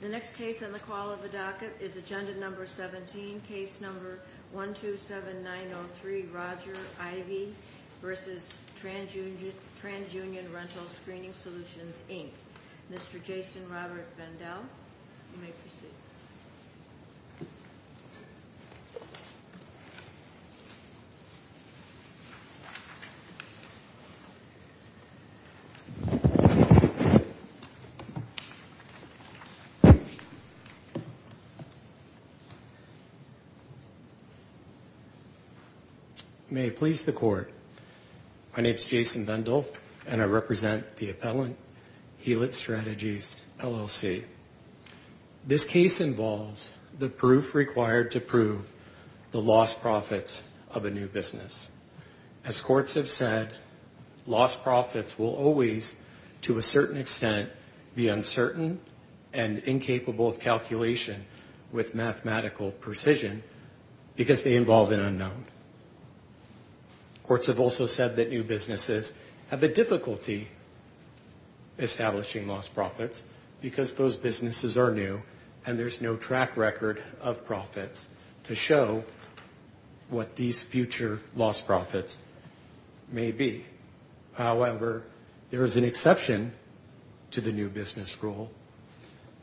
The next case on the call of the docket is Agenda No. 17, Case No. 127903, Roger Ivey v. Transunion Rental Screening Solutions, Inc. Mr. Jason Robert Vandell, you may proceed. May it please the Court. My name is Jason Vandell, and I represent the appellant, Hewlett Strategies, LLC. This case involves the proof required to prove the lost profits of a new business. As courts have said, lost profits will always, to a certain extent, be uncertain and incapable of calculation with mathematical precision because they involve an unknown. Courts have also said that new businesses have a difficulty establishing lost profits because those businesses are new and there's no track record of profits to show what these future lost profits may be. However, there is an exception to the new business rule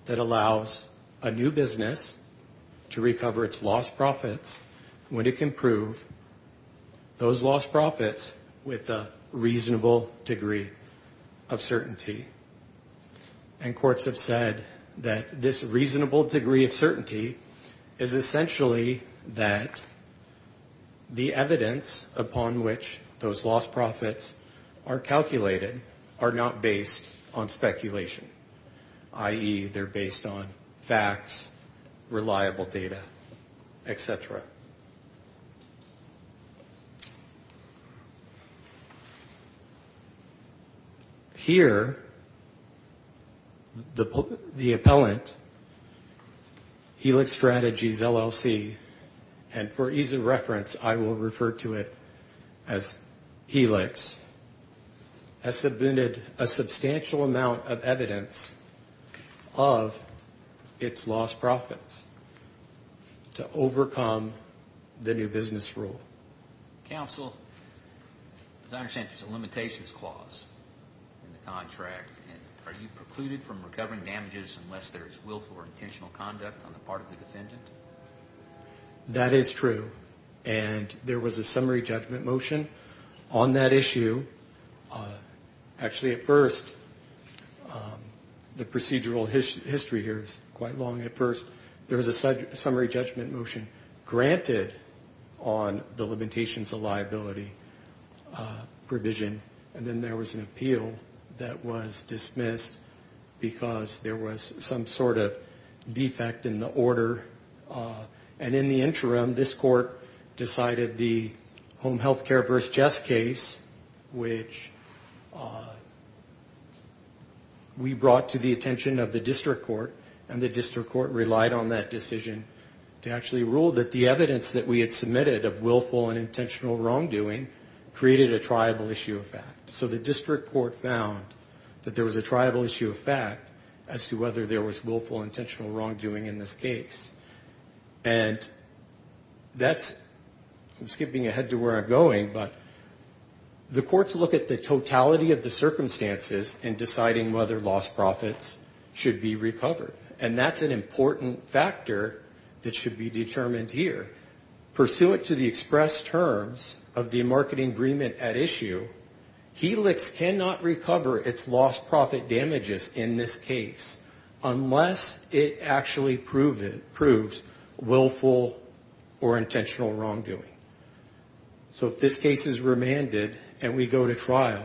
that allows a new business to recover its lost profits when it can prove those lost profits with a reasonable degree of certainty. And courts have said that this reasonable degree of certainty is essentially that the evidence upon which those lost profits are calculated are not based on speculation, i.e., they're based on facts, reliable data, etc. Here, the appellant, Hewlett Strategies, LLC, and for ease of reference, I will refer to it as Helix, has submitted a substantial amount of evidence of its lost profits to overcome the new business rule. Counsel, as I understand, there's a limitations clause in the contract. Are you precluded from recovering damages unless there is willful or intentional conduct on the part of the defendant? That is true. And there was a summary judgment motion on that issue. Actually, at first, the procedural history here is quite long. At first, there was a summary judgment motion granted on the limitations of liability provision. And then there was an appeal that was dismissed because there was some sort of defect in the order. And in the interim, this court decided the home health care versus chest case, which we brought to the attention of the district court. And the district court relied on that decision to actually rule that the evidence that we had submitted of willful and intentional wrongdoing created a triable issue of fact. And that's, I'm skipping ahead to where I'm going, but the courts look at the totality of the circumstances in deciding whether lost profits should be recovered. And that's an important factor that should be determined here. Pursuant to the express terms of the marketing agreement at issue, Helix cannot recover its lost profit damages in this case unless it actually proves willful or intentional wrongdoing. So if this case is remanded and we go to trial,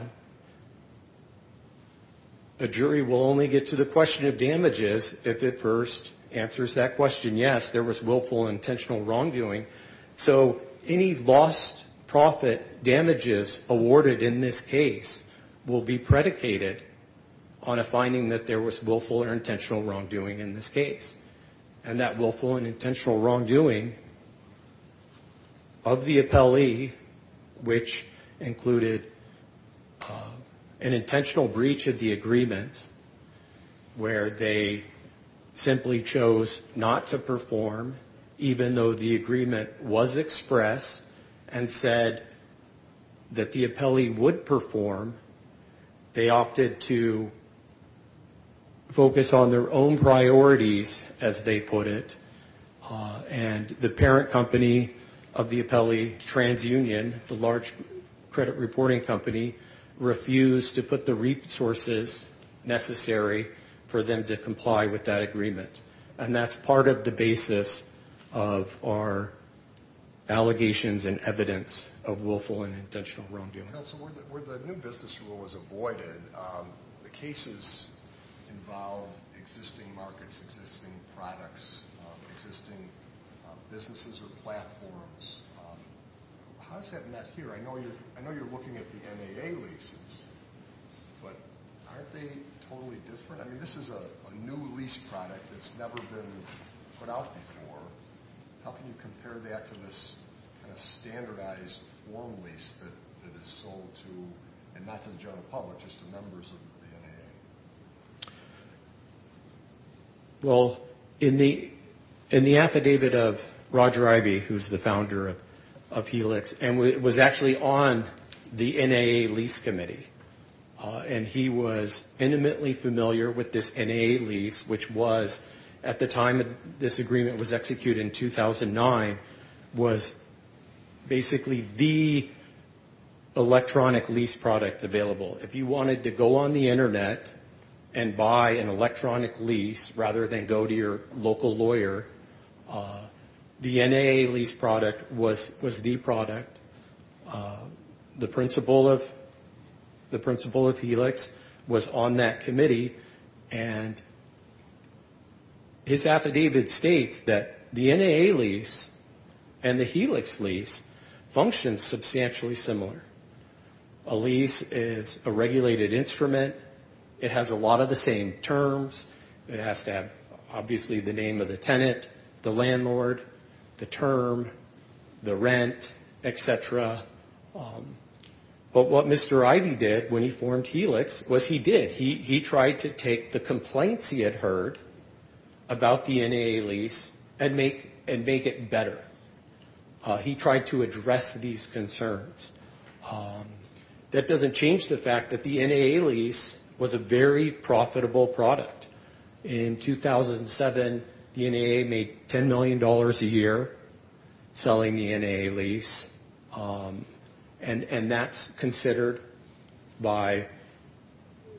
a jury will only get to the question of damages if it first answers that question, yes, there was willful or intentional wrongdoing. So any lost profit damages awarded in this case will be predicated on a finding that there was willful or intentional wrongdoing in this case. And that willful and intentional wrongdoing of the appellee, which included an intentional breach of the agreement where they simply chose not to perform, even though the agreement was expressed and said that the appellee would perform. They opted to focus on their own priorities, as they put it, and the parent company of the appellee, TransUnion, the large credit reporting company, refused to put the resources necessary for them to comply with that agreement. And that's part of the basis of our allegations and evidence of willful and intentional wrongdoing. So where the new business rule is avoided, the cases involve existing markets, existing products, existing businesses or platforms. How is that met here? I know you're looking at the NAA leases, but aren't they totally different? I mean, this is a new lease product that's never been put out before. How can you compare that to this kind of standardized form lease that is sold to, and not to the general public, just to members of the NAA? Well, in the affidavit of Roger Ivey, who's the founder of Helix, and was actually on the NAA lease committee, and he was intimately familiar with this NAA lease, which was, at the time this agreement was executed, in 2009, was basically the electronic lease product available. If you wanted to go on the Internet and buy an electronic lease, rather than go to your local lawyer, the NAA lease product was the product. The principal of Helix was on that committee, and his affidavit states that the NAA lease product was the product. The NAA lease and the Helix lease function substantially similar. A lease is a regulated instrument. It has a lot of the same terms. It has to have, obviously, the name of the tenant, the landlord, the term, the rent, et cetera. But what Mr. Ivey did when he formed Helix was he did. He took the complaints he had heard about the NAA lease and make it better. He tried to address these concerns. That doesn't change the fact that the NAA lease was a very profitable product. In 2007, the NAA made $10 million a year selling the NAA lease. And that's considered by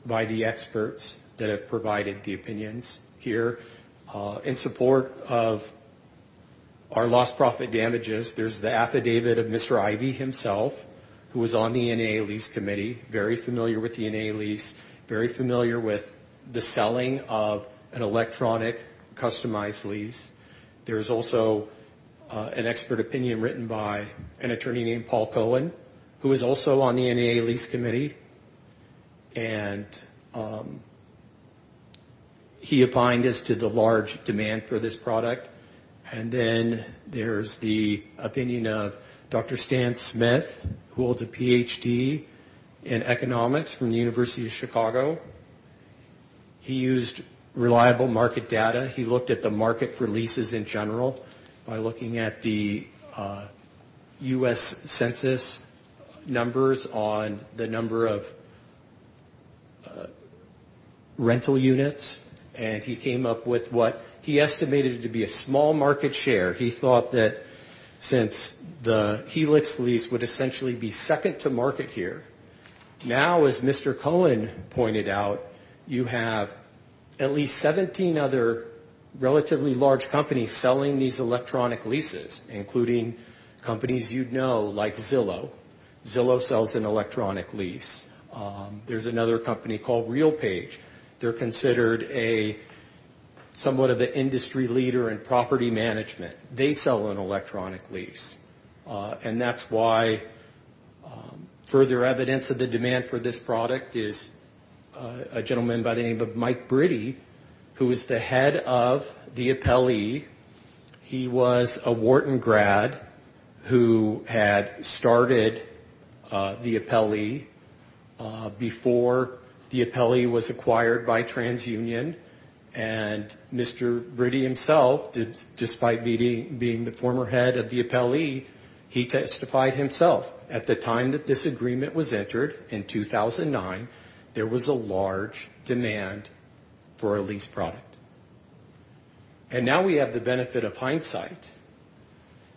the experts that have provided the opinions here. In support of our lost profit damages, there's the affidavit of Mr. Ivey himself, who was on the NAA lease committee, very familiar with the NAA lease, very familiar with the selling of an electronic customized lease. There's also an expert opinion written by an attorney named Paul Cohen, who was also on the NAA lease committee. And he opined as to the large demand for this product. And then there's the opinion of Dr. Stan Smith, who holds a Ph.D. in economics from the University of Chicago. He used reliable market data. He looked at the market for leases in general by looking at the U.S. census numbers on the number of rental units. And he came up with what he estimated to be a small market share. He thought that since the Helix lease would essentially be second to market here, now, as Mr. Cohen pointed out, it's going to be a small market share. As he pointed out, you have at least 17 other relatively large companies selling these electronic leases, including companies you'd know like Zillow. Zillow sells an electronic lease. There's another company called RealPage. They're considered somewhat of an industry leader in property management. They sell an electronic lease. And that's why further evidence of the demand for this product is a gentleman by the name of Mike Britty, who is the head of the appellee. He was a Wharton grad who had started the appellee before the appellee was acquired by TransUnion. And Mr. Britty himself, despite being the former head of the appellee, he testified himself. At the time that this agreement was entered in 2009, there was a large demand for a lease product. And now we have the benefit of hindsight.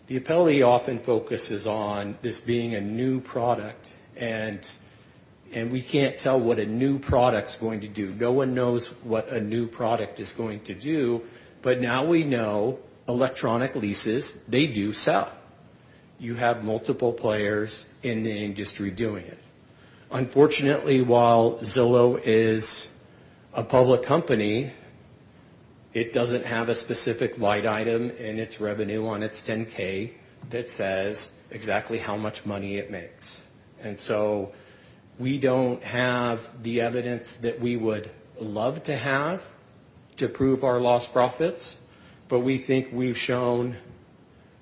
The appellee often focuses on this being a new product, and we can't tell what a new product's going to do. No one knows what a new product is going to do, but now we know electronic leases, they do sell. You have multiple players in the industry doing it. Unfortunately, while Zillow is a public company, it doesn't have a specific light item in its revenue on its 10-K that says exactly how much money it makes. And so we don't have the evidence that we would love to have to prove our lost profits, but we think we've shown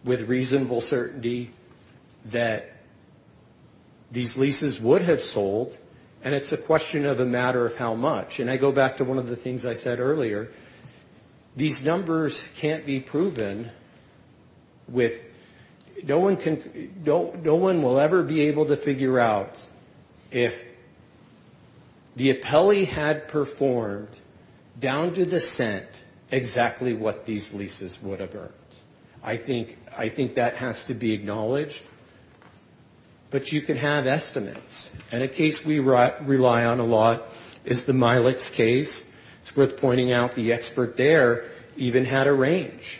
with reasonable certainty that these leases would have sold, and it's a question of a matter of how much. And I go back to one of the things I said earlier. These numbers can't be proven with no one will ever be able to figure out if the appellee had performed down to the cent exactly what these leases would have earned. I think that has to be acknowledged, but you can have estimates. And a case we rely on a lot is the Milex case. The expert there even had a range.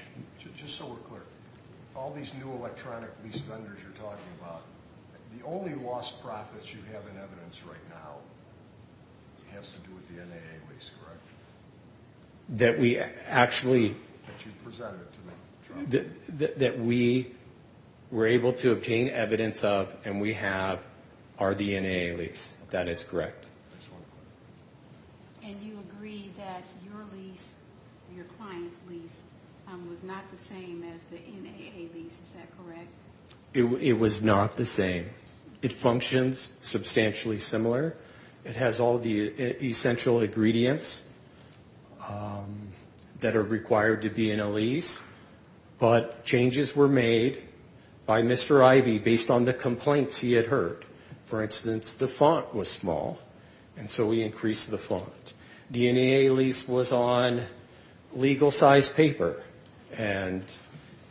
That we were able to obtain evidence of and we have are the NAA lease, that is correct. And the Milex case, your client's lease, was not the same as the NAA lease, is that correct? It was not the same. It functions substantially similar. It has all the essential ingredients that are required to be in a lease, but changes were made by Mr. Ivy based on the complaints he had heard. For instance, the font was small, and so we increased the font. And legal size paper, and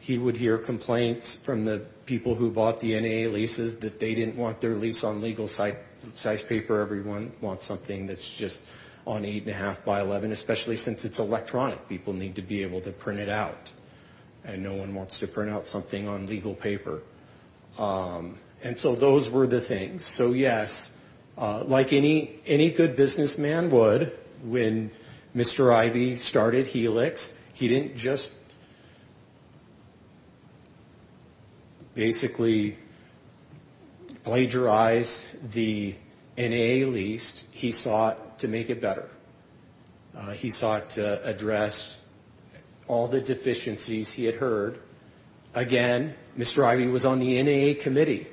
he would hear complaints from the people who bought the NAA leases that they didn't want their lease on legal size paper. Everyone wants something that's just on eight and a half by 11, especially since it's electronic. People need to be able to print it out, and no one wants to print out something on legal paper. And so those were the things. So yes, like any good businessman would, when Mr. Ivy started Helix, he didn't just basically plagiarize the NAA lease, he sought to make it better. He sought to address all the deficiencies he had heard. Again, Mr. Ivy was on the NAA committee,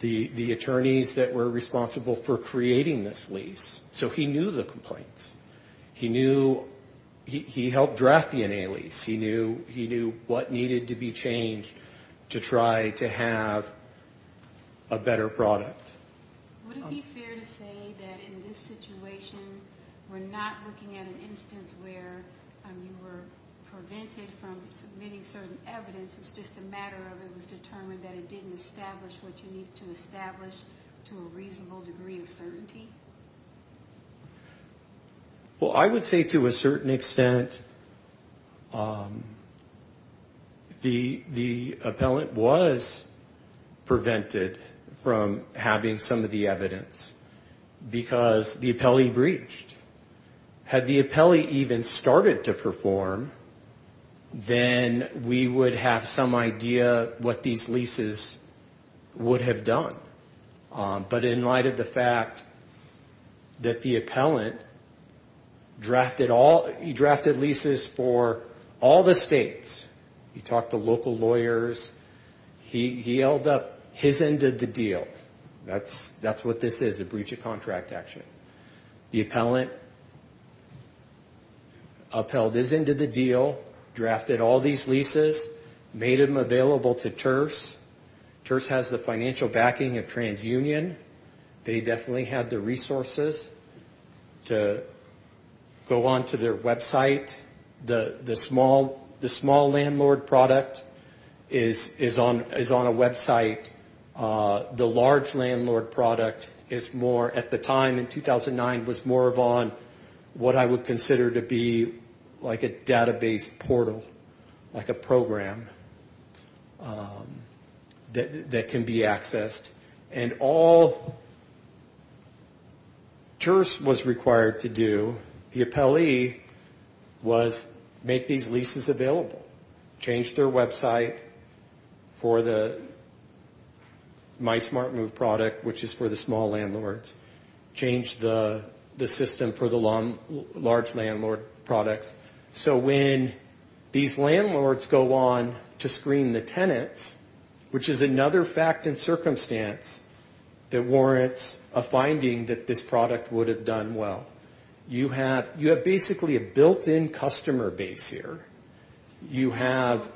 the attorneys that were responsible for creating this lease, so he knew the complaints. He knew, he helped draft the NAA lease. He knew what needed to be changed to try to have a better product. Would it be fair to say that in this situation, we're not looking at an instance where you were prevented from having a better product? From submitting certain evidence, it's just a matter of it was determined that it didn't establish what you need to establish to a reasonable degree of certainty? Well, I would say to a certain extent, the appellant was prevented from having some of the evidence, because the appellee breached. Had the appellee even started to perform, then we would have some idea what these leases would have done. But in light of the fact that the appellant drafted leases for all the states, he talked to local lawyers, he held up his end of the deal. That's what this is, a breach of contract action. The appellant upheld his end of the deal, drafted all these leases, made them available to TIRS. TIRS has the financial backing of TransUnion. They definitely had the resources to go onto their website. The small landlord product is on a website. The large landlord product is more, at the time in 2009, was more of on what I would consider to be like a database portal, like a program that can be accessed. And all TIRS was required to do, the appellee, was make these leases available. Change their website for the My Smart Move product, which is for the small landlords. Change the system for the large landlord products. So when these landlords go on to screen the tenants, which is another fact and circumstance that warrants a finding that this product would have done well. You have basically a built-in customer base here. You have...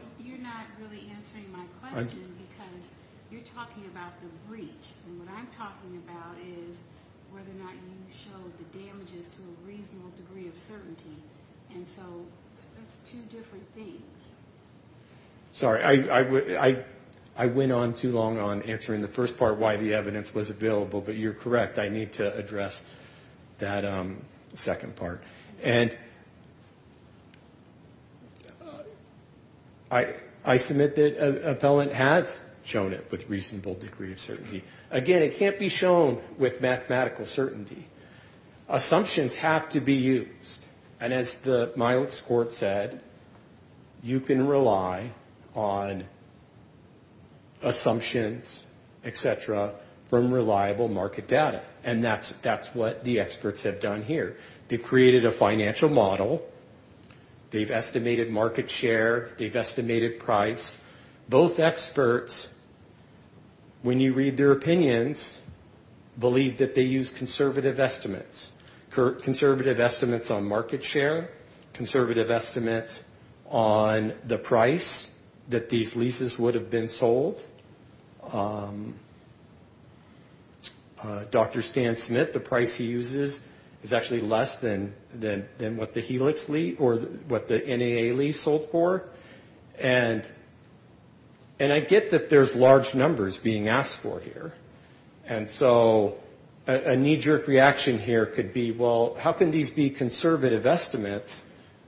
Sorry, I went on too long on answering the first part, why the evidence was available, but you're correct. I need to address that second part. I submit that an appellant has shown it with reasonable degree of certainty. Again, it can't be shown with mathematical certainty. Assumptions have to be used, and as the Milots court said, you can rely on assumptions, et cetera, from reliable market data. And that's what the experts have done here. They've created a financial model, they've estimated market share, they've estimated price. Both experts, when you read their opinions, believe that they use conservative estimates. Conservative estimates on market share, conservative estimates on the price that these leases would have been sold. Dr. Stan Smith, the price he uses is actually less than what the Helix lease, or what the NAA lease sold for. And I get that there's large numbers being asked for here. And so a knee-jerk reaction here could be, well, how can these be conservative estimates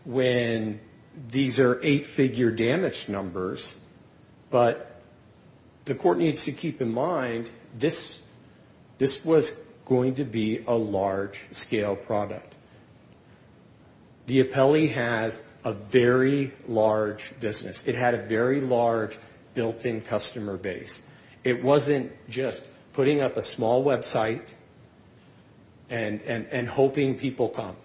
when these are eight-figure damage numbers? But the court needs to keep in mind, this was going to be a large-scale product. The appellee has a very large business. It had a very large built-in customer base. It wasn't just putting up a small website and hoping people come.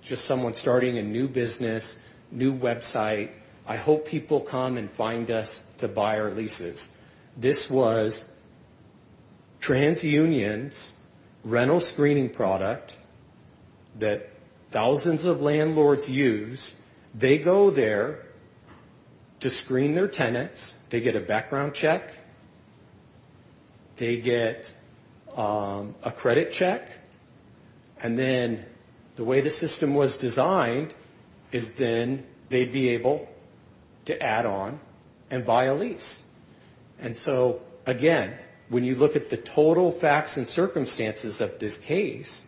Just someone starting a new business, new website, I hope people come and find us to buy our leases. This was TransUnion's rental screening product that thousands of landlords use. They go there to screen their tenants, they get a background check, they get a credit check. And then the way the system was designed is then they'd be able to add on and buy a lease. And so, again, when you look at the total facts and circumstances of this case,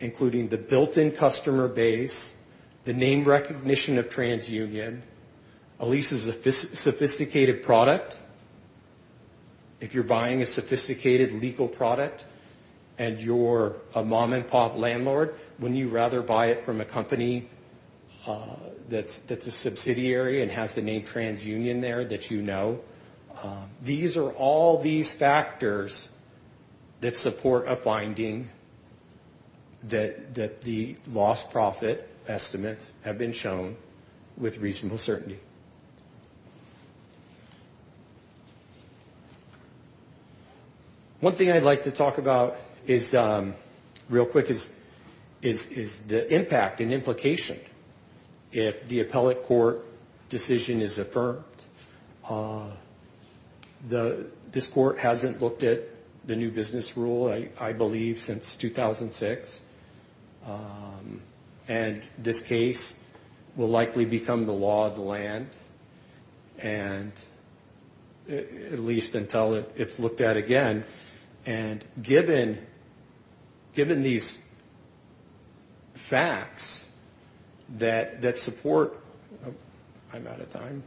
including the built-in customer base, the name recognition of TransUnion, a lease is a sophisticated product. If you're buying a sophisticated legal product and you're a mom-and-pop landlord, wouldn't you rather buy it from a company that's a subsidiary and has the name TransUnion there that you know? These are all these factors that support a finding that the lost profit estimates have been shown with reasonable certainty. One thing I'd like to talk about real quick is the impact and implication if the appellate court decision is affirmed. This court hasn't looked at the new business rule, I believe, since 2006. And this case will likely become the law of the land. And at least until it's looked at again. And given these facts that support... I'm out of time.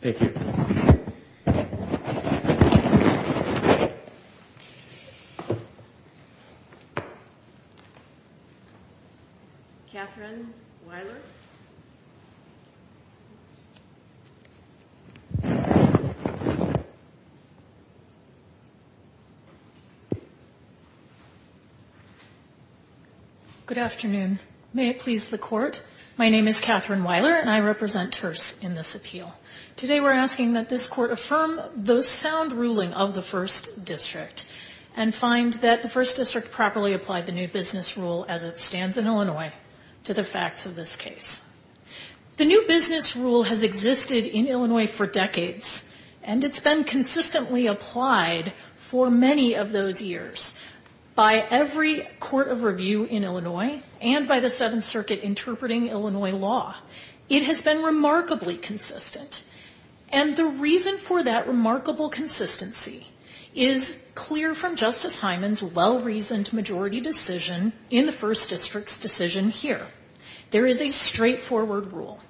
Thank you. Thank you. Katherine Weiler. Good afternoon. May it please the Court? I'm asking that this Court affirm the sound ruling of the First District and find that the First District properly applied the new business rule as it stands in Illinois to the facts of this case. The new business rule has existed in Illinois for decades, and it's been consistently applied for many of those years. By every court of review in Illinois and by the Seventh Circuit interpreting Illinois law, it has been remarkably consistent. And the reason for that remarkable consistency is clear from Justice Hyman's well-reasoned majority decision in the First District's decision here. There is a straightforward rule.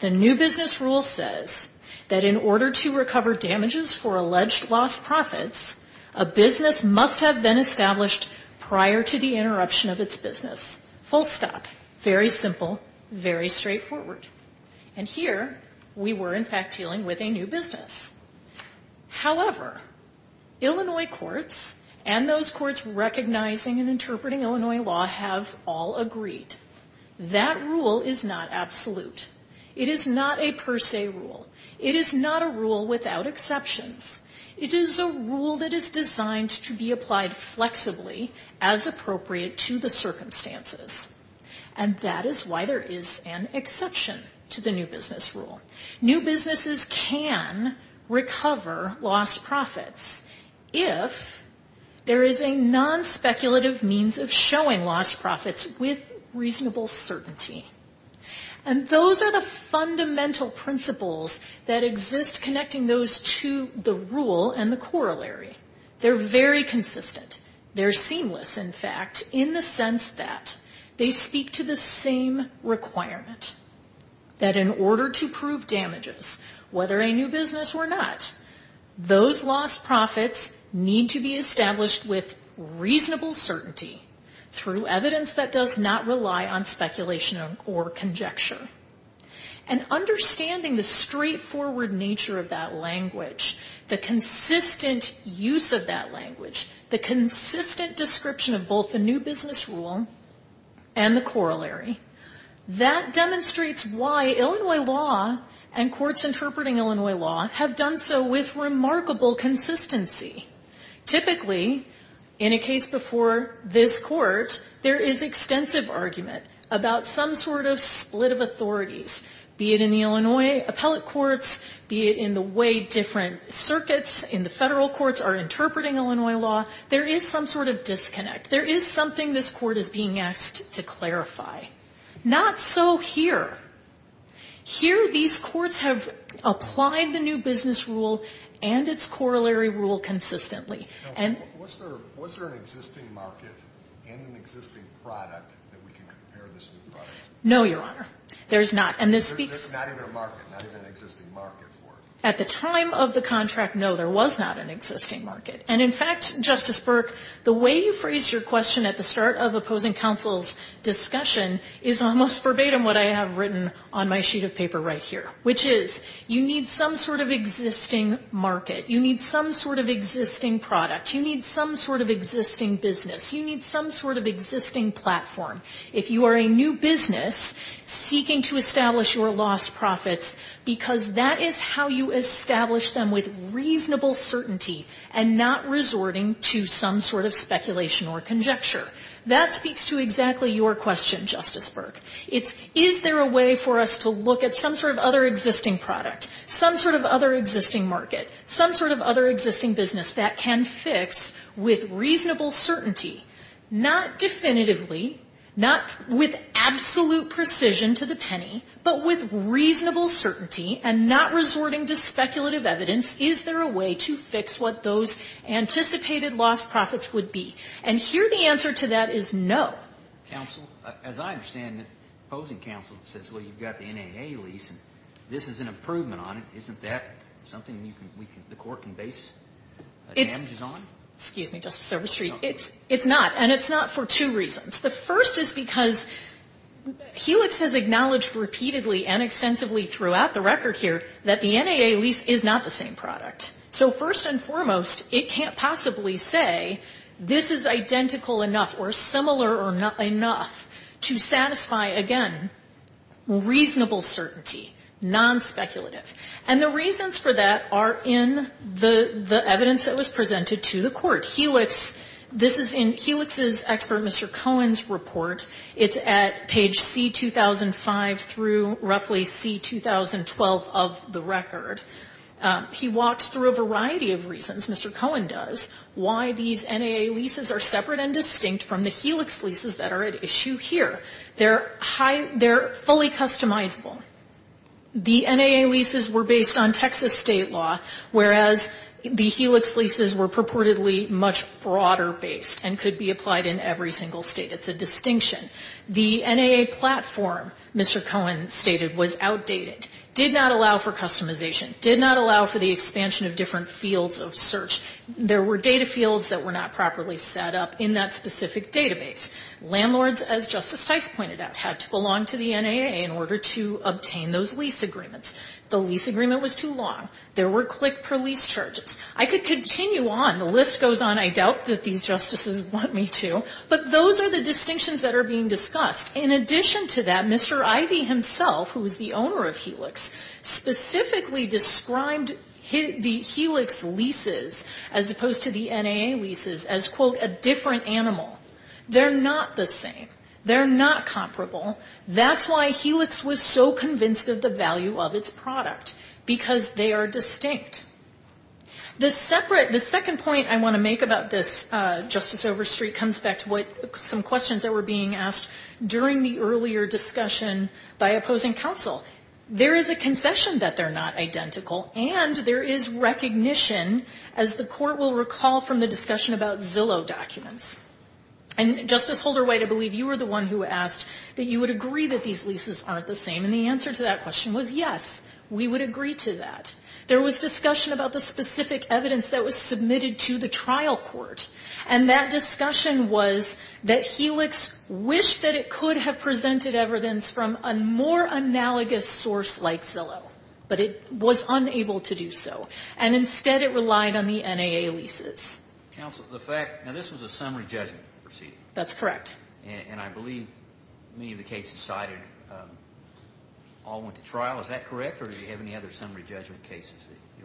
The new business rule says that in order to recover damages for alleged lost profits, a business must have been established prior to the interruption of its business. Full stop. Very simple. Very straightforward. And here, we were in fact dealing with a new business. However, Illinois courts and those courts recognizing and interpreting Illinois law have all agreed. That rule is not absolute. It is not a per se rule. It is not a rule without exceptions. It is a rule that is designed to be applied flexibly as appropriate to the circumstances. And that is why there is an exception to the new business rule. New businesses can recover lost profits if there is a non-speculative means of showing lost profits with reasonable certainty. And those are the fundamental principles that exist connecting those to the rule and the corollary. They're very consistent. They're seamless, in fact, in the sense that they speak to the same requirement. That in order to prove damages, whether a new business or not, those lost profits need to be established with reasonable certainty through evidence that does not rely on speculation or conjecture. And understanding the straightforward nature of that language, the consistent use of that language, and understanding the consistent description of both the new business rule and the corollary, that demonstrates why Illinois law and courts interpreting Illinois law have done so with remarkable consistency. Typically, in a case before this Court, there is extensive argument about some sort of split of authorities, be it in the Illinois appellate courts, be it in the way different circuits in the federal courts are interpreting Illinois law. There is some sort of disconnect. There is something this Court is being asked to clarify. Not so here. Here, these courts have applied the new business rule and its corollary rule consistently. And... No, Your Honor. There's not. There's not even a market, not even an existing market for it. At the time of the contract, no, there was not an existing market. And in fact, Justice Burke, the way you phrased your question at the start of opposing counsel's discussion is almost verbatim what I have written on my sheet of paper right here, which is, you need some sort of existing market. You need some sort of existing product. You need some sort of existing business. You need some sort of existing platform. If you are a new business seeking to establish your lost profits, because that is how you establish them with reasonable certainty and not resorting to some sort of speculation or conjecture. That speaks to exactly your question, Justice Burke. It's, is there a way for us to look at some sort of other existing product, some sort of other existing market, some sort of other existing business that can fix with reasonable certainty? Not definitively, not with absolute precision to the penny, but with reasonable certainty and not resorting to speculative evidence, is there a way to fix what those anticipated lost profits would be? And here the answer to that is no. Counsel, as I understand it, opposing counsel says, well, you've got the NAA lease and this is an improvement on it. Isn't that something the court can base damages on? Excuse me, Justice Silverstreet. It's not. And it's not for two reasons. The first is because Helix has acknowledged repeatedly and extensively throughout the record here that the NAA lease is not the same product. So first and foremost, it can't possibly say this is identical enough or similar enough to satisfy, again, reasonable certainty, non-speculative. And the reasons for that are in the evidence that was presented to the court. Helix, this is in Helix's expert, Mr. Cohen's report. It's at page C-2005 through roughly C-2012 of the record. He walks through a variety of reasons, Mr. Cohen does, why these NAA leases are separate and distinct from the Helix leases that are at issue here. They're fully customizable. The NAA leases were based on Texas state law, whereas the Helix leases were purportedly much broader based and could be applied in every single state. It's a distinction. The NAA platform, Mr. Cohen stated, was outdated, did not allow for customization, did not allow for the expansion of different fields of search. There were data fields that were not properly set up in that specific database. Landlords, as Justice Stice pointed out, had to belong to the NAA in order to obtain those lease agreements. The lease agreement was too long. There were click-per-lease charges. I could continue on. The list goes on. I doubt that these justices want me to. But those are the distinctions that are being discussed. In addition to that, Mr. Ivey himself, who is the owner of Helix, specifically described the Helix leases as opposed to the NAA leases as, quote, a different animal. They're not the same. They're not comparable. That's why Helix was so convinced of the value of its product, because they are distinct. The second point I want to make about this, Justice Overstreet, comes back to some questions that were being asked during the earlier discussion by opposing counsel. There is a concession that they're not identical, and there is recognition, as the Court will recall from the discussion about Zillow documents. Justice Holder-White, I believe you were the one who asked that you would agree that these leases aren't the same. And the answer to that question was, yes, we would agree to that. There was discussion about the specific evidence that was submitted to the trial court, and that discussion was that Helix wished that it could have presented evidence from a more analogous source like Zillow, but it was unable to do so. And instead, it relied on the NAA leases. Counsel, the fact, now this was a summary judgment proceeding. That's correct. And I believe many of the cases cited all went to trial. Is that correct, or did you have any other summary judgment cases?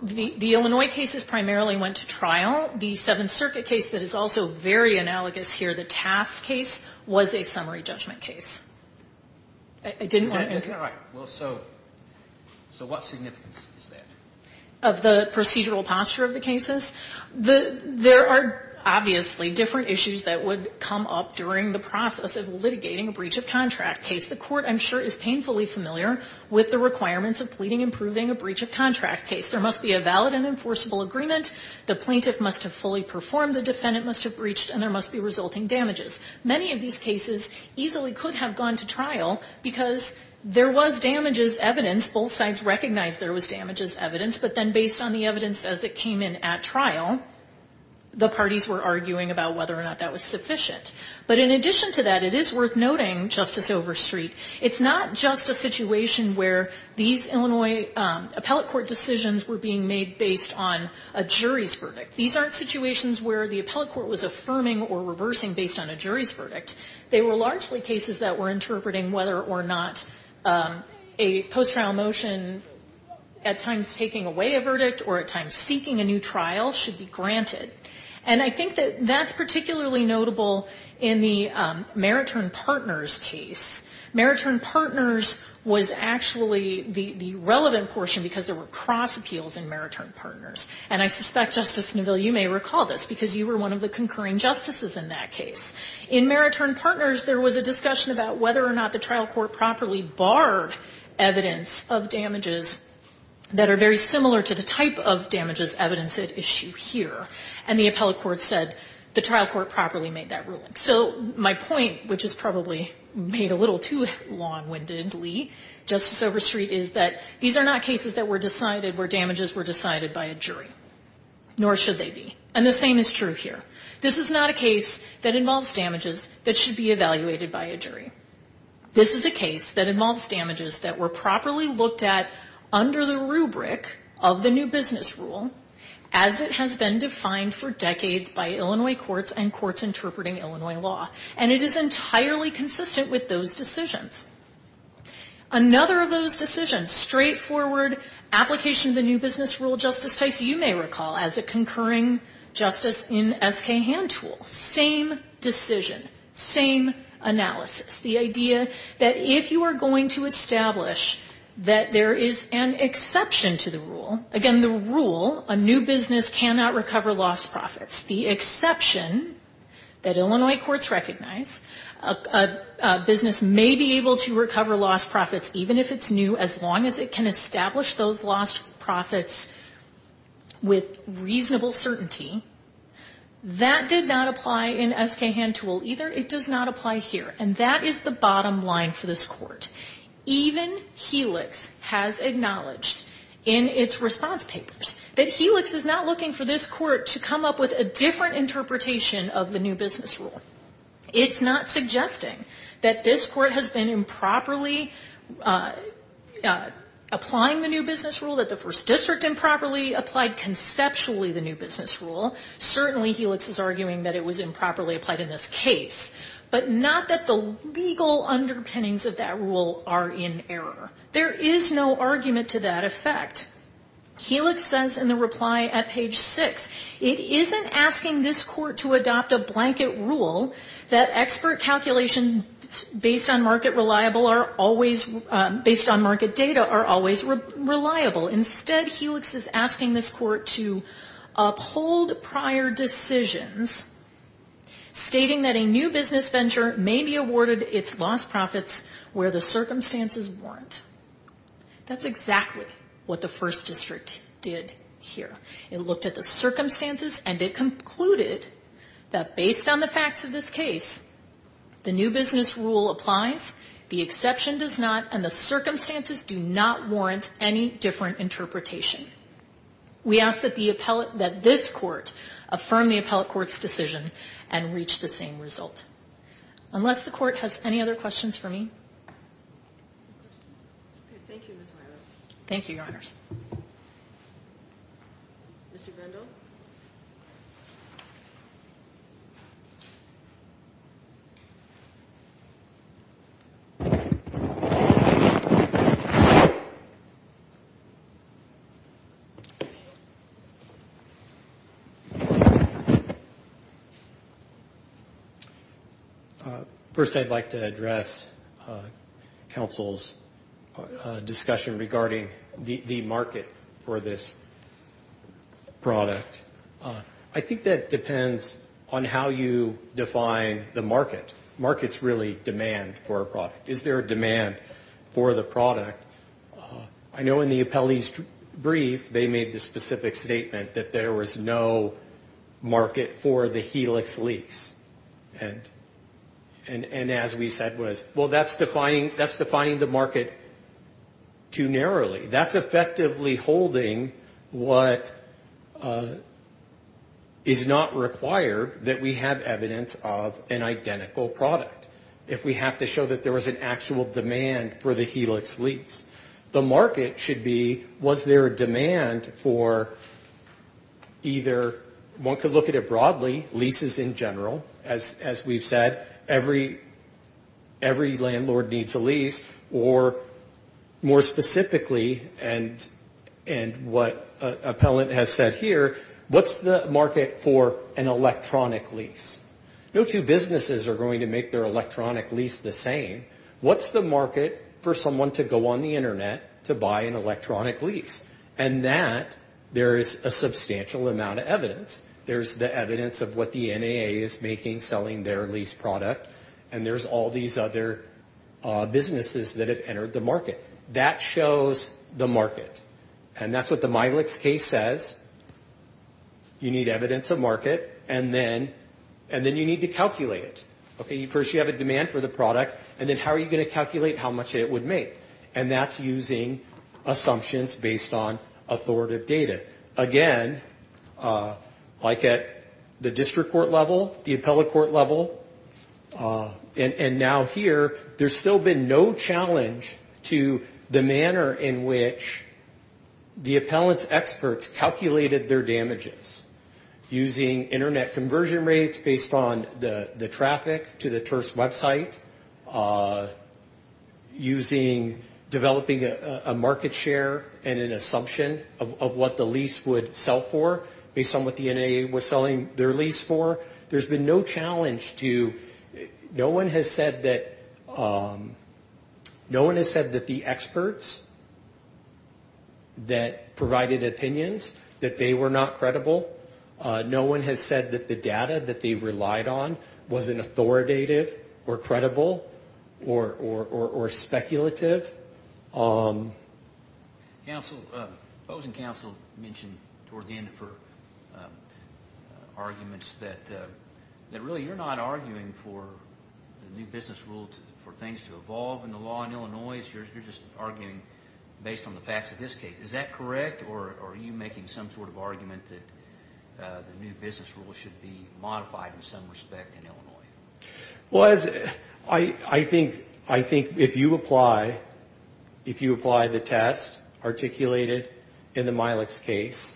The Illinois cases primarily went to trial. The Seventh Circuit case that is also very analogous here, the Tass case, was a summary judgment case. Is that correct? So what significance is that? Of the procedural posture of the cases? There are obviously different issues that would come up during the process of litigating a breach of contract case. The Court, I'm sure, is painfully familiar with the requirements of pleading and proving a breach of contract case. There must be a valid and enforceable agreement. The plaintiff must have fully performed, the defendant must have breached, and there must be resulting damages. Many of these cases easily could have gone to trial because there was damages evidence. Both sides recognized there was damages evidence, but then based on the evidence as it came in at trial, the parties were arguing about whether or not that was sufficient. But in addition to that, it is worth noting, Justice Overstreet, it's not just a situation where these Illinois appellate court decisions were being made based on a jury's verdict. These aren't situations where the appellate court was affirming or reversing based on a jury's verdict. They were largely cases that were interpreting whether or not a post-trial motion, at times taking away a verdict or at times seeking a new trial, should be granted. And I think that that's particularly notable in the Mariturn Partners case. Mariturn Partners was actually the relevant portion because there were cross-appeals in Mariturn Partners. And I suspect, Justice Neville, you may recall this because you were one of the concurring justices in that case. In Mariturn Partners, there was a discussion about whether or not the trial court properly barred evidence of damages that are very similar to the type of damages evidenced at issue here. And the appellate court said the trial court properly made that ruling. So my point, which is probably made a little too long-windedly, Justice Overstreet, is that these are not cases that were decided where damages were decided by a jury. Nor should they be. And the same is true here. This is not a case that involves damages that should be evaluated by a jury. of the new business rule as it has been defined for decades by Illinois courts and courts interpreting Illinois law. And it is entirely consistent with those decisions. Another of those decisions, straightforward application of the new business rule, Justice Tice, you may recall, as a concurring justice in S.K. Hantool. Same decision. Same analysis. The idea that if you are going to establish that there is an exception to the rule, again, the rule, a new business cannot recover lost profits, the exception that Illinois courts recognize, a business may be able to recover lost profits even if it's new as long as it can establish those lost profits with reasonable certainty. That did not apply in S.K. Hantool either. It does not apply here. And that is the bottom line for this court. Even Helix has acknowledged in its response papers that Helix is not looking for this court to come up with a different interpretation of the new business rule. It's not suggesting that this court has been improperly applying the new business rule, that the first district improperly applied conceptually the new business rule. Certainly Helix is arguing that it was improperly applied in this case. But not that the legal underpinnings of that rule are in error. There is no argument to that effect. Helix says in the reply at page 6, it isn't asking this court to adopt a blanket rule that expert calculations based on market data are always reliable. Instead, Helix is asking this court to uphold prior decisions stating that a new business venture may be awarded its lost profits where the circumstances warrant. That's exactly what the first district did here. It looked at the circumstances and it concluded that based on the facts of this case, the new business rule applies, the exception does not, and the circumstances do not warrant any different interpretation. We ask that this court affirm the appellate court's decision and reach the same result. Unless the court has any other questions for me. Thank you, Your Honors. Mr. Grendel. First, I'd like to address counsel's discussion regarding the market for this product. I think that depends on how you define the market. Markets really demand for a product. Is there a demand for the product? I know in the appellee's brief, they made the specific statement that there was no market for the Helix lease. And as we said was, well, that's defining the market too narrowly. That's effectively holding what is not required that we have evidence of an identical product. If we have to show that there was an actual demand for the Helix lease, the market should be, was there a demand for either, one could look at it broadly, leases in general, as we've said. Every landlord needs a lease, or more specifically, and what appellant has said here, what's the market for an electronic lease? No two businesses are going to make their electronic lease the same. What's the market for someone to go on the Internet to buy an electronic lease? And that, there is a substantial amount of evidence. There's the evidence of what the NAA is making, selling their lease product, and there's all these other businesses that have entered the market. That shows the market. And that's what the Milex case says. You need evidence of market, and then you need to calculate it. First, you have a demand for the product, and then how are you going to calculate how much it would make? And that's using assumptions based on authoritative data. Again, like at the district court level, the appellate court level, and now here, there's still been no challenge to the manner in which the appellant's experts calculated their damages. Using Internet conversion rates based on the traffic to the TIRST website, using, developing a market share and an assumption of what the lease would sell for, based on what the NAA was selling their lease for. There's been no challenge to, no one has said that, no one has said that the experts that provided opinions, that they were not credible. No one has said that the data that they relied on wasn't authoritative or credible or speculative. Counsel, opposing counsel mentioned toward the end for arguments that really you're not arguing for new business rules, for things to evolve in the law in Illinois. You're just arguing based on the facts of this case. Is that correct, or are you making some sort of argument that the new business rules should be modified in some respect in Illinois? Well, I think if you apply the test articulated in the Milex case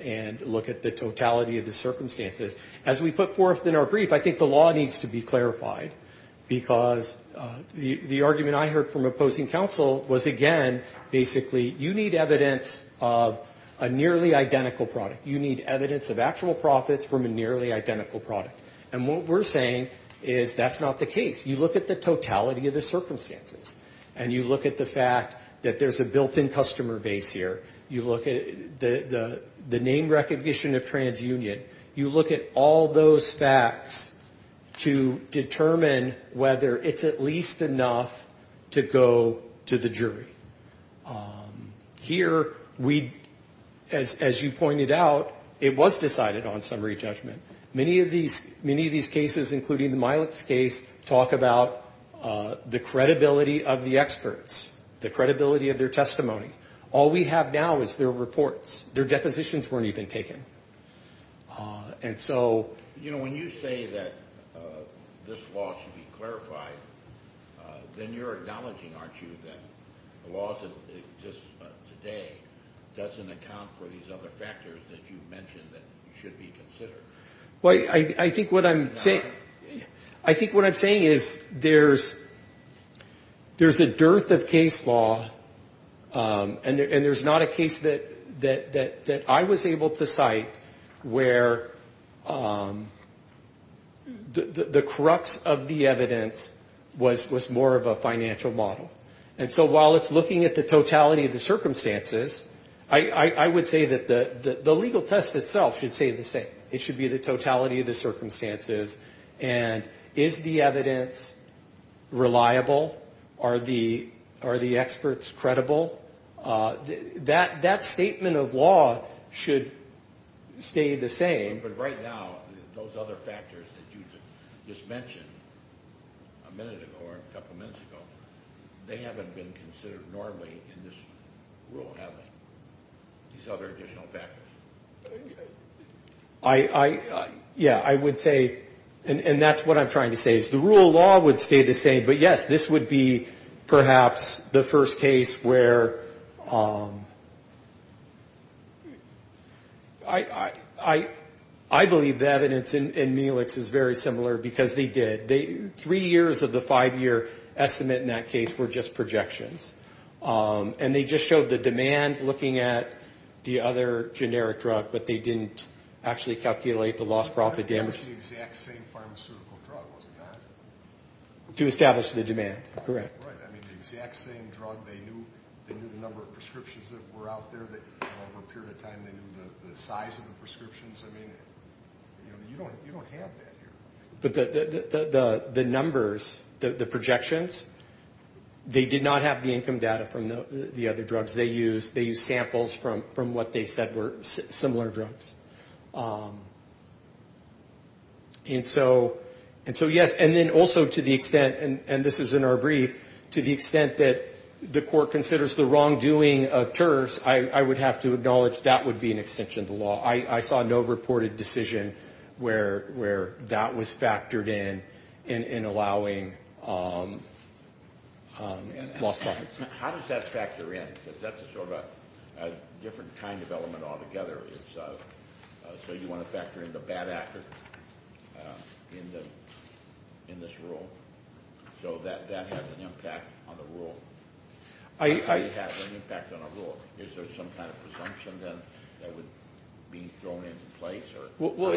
and look at the totality of the circumstances, as we put forth in our brief, I think the law needs to be clarified. Because the argument I heard from opposing counsel was, again, basically, you need evidence of a nearly identical product. You need evidence of actual profits from a nearly identical product. And what we're saying is that's not the case. You look at the totality of the circumstances, and you look at the fact that there's a built-in customer base here. You look at the name recognition of TransUnion. You look at all those facts to determine whether it's at least enough to go to the jury. Here, as you pointed out, it was decided on summary judgment. Many of these cases, including the Milex case, talk about the credibility of the experts, the credibility of their testimony. All we have now is their reports. Their depositions weren't even taken. You know, when you say that this law should be clarified, then you're acknowledging, aren't you, that the laws that exist today doesn't account for these other factors that you mentioned that should be considered? Well, I think what I'm saying is there's a dearth of case law in Illinois. And there's not a case that I was able to cite where the crux of the evidence was more of a financial model. And so while it's looking at the totality of the circumstances, I would say that the legal test itself should say the same. It should be the totality of the circumstances. And is the evidence reliable? Are the experts credible? That statement of law should stay the same. But right now, those other factors that you just mentioned a minute ago or a couple minutes ago, they haven't been considered normally in this rule, have they, these other additional factors? Yeah, I would say, and that's what I'm trying to say, is the rule of law would stay the same. But, yes, this would be perhaps the first case where I believe the evidence in Melix is very similar because they did. Three years of the five-year estimate in that case were just projections. And they just showed the demand looking at the other generic drug, but they didn't actually calculate the loss, profit, damage. To establish the demand, correct. I mean, the exact same drug. They knew the number of prescriptions that were out there. Over a period of time, they knew the size of the prescriptions. I mean, you don't have that here. But the numbers, the projections, they did not have the income data from the other drugs they used. They used samples from what they said were similar drugs. And so, yes, and then also to the extent, and this is in our brief, to the extent that the court considers the wrongdoing of tariffs, I would have to acknowledge that would be an extension of the law. I saw no reported decision where that was factored in in allowing lost profits. How does that factor in? Because that's a sort of a different kind of element altogether. So you want to factor in the bad actor in this rule? So that has an impact on the rule. It has an impact on a rule. Is there some kind of presumption then that would be thrown into place? Well,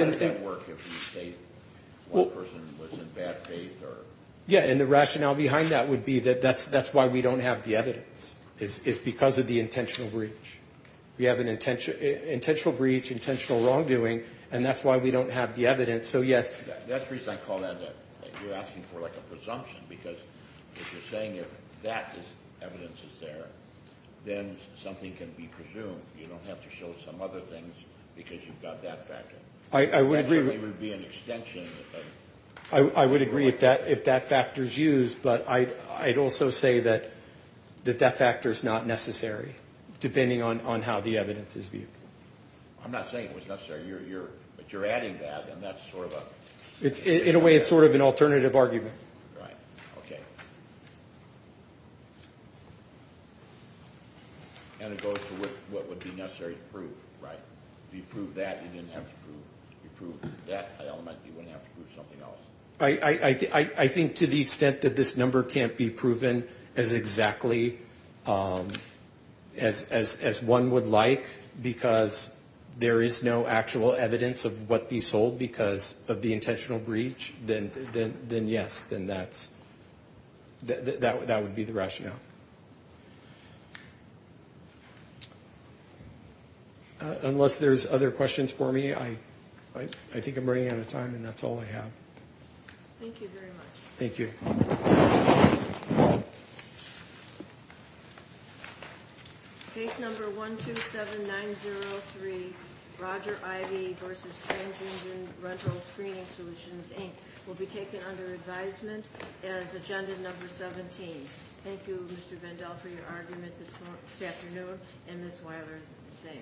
yeah. And the rationale behind that would be that that's why we don't have the evidence. It's because of the intentional breach. We have an intentional breach, intentional wrongdoing. And that's why we don't have the evidence. So, yes, that's the reason I call that. You're asking for like a presumption because you're saying if that evidence is there, then something can be presumed. You don't have to show some other things because you've got that factor. I would agree with that if that factor is used, but I'd also say that that factor is not necessary, depending on how the evidence is viewed. In a way, it's sort of an alternative argument. Right. Okay. And it goes to what would be necessary to prove, right? If you prove that, you didn't have to prove that element. You wouldn't have to prove something else. I think to the extent that this number can't be proven as exactly as one would like, because there is no actual evidence of what these hold because of the intentional breach, then yes. And that would be the rationale. Unless there's other questions for me, I think I'm running out of time, and that's all I have. Thank you very much. Case number 127903, Roger Ivey versus Trans-Engine Rental Screening Solutions, Inc. will be taken under advisement as agenda number 17. Thank you, Mr. Vandell, for your argument this afternoon, and Ms. Weiler, the same.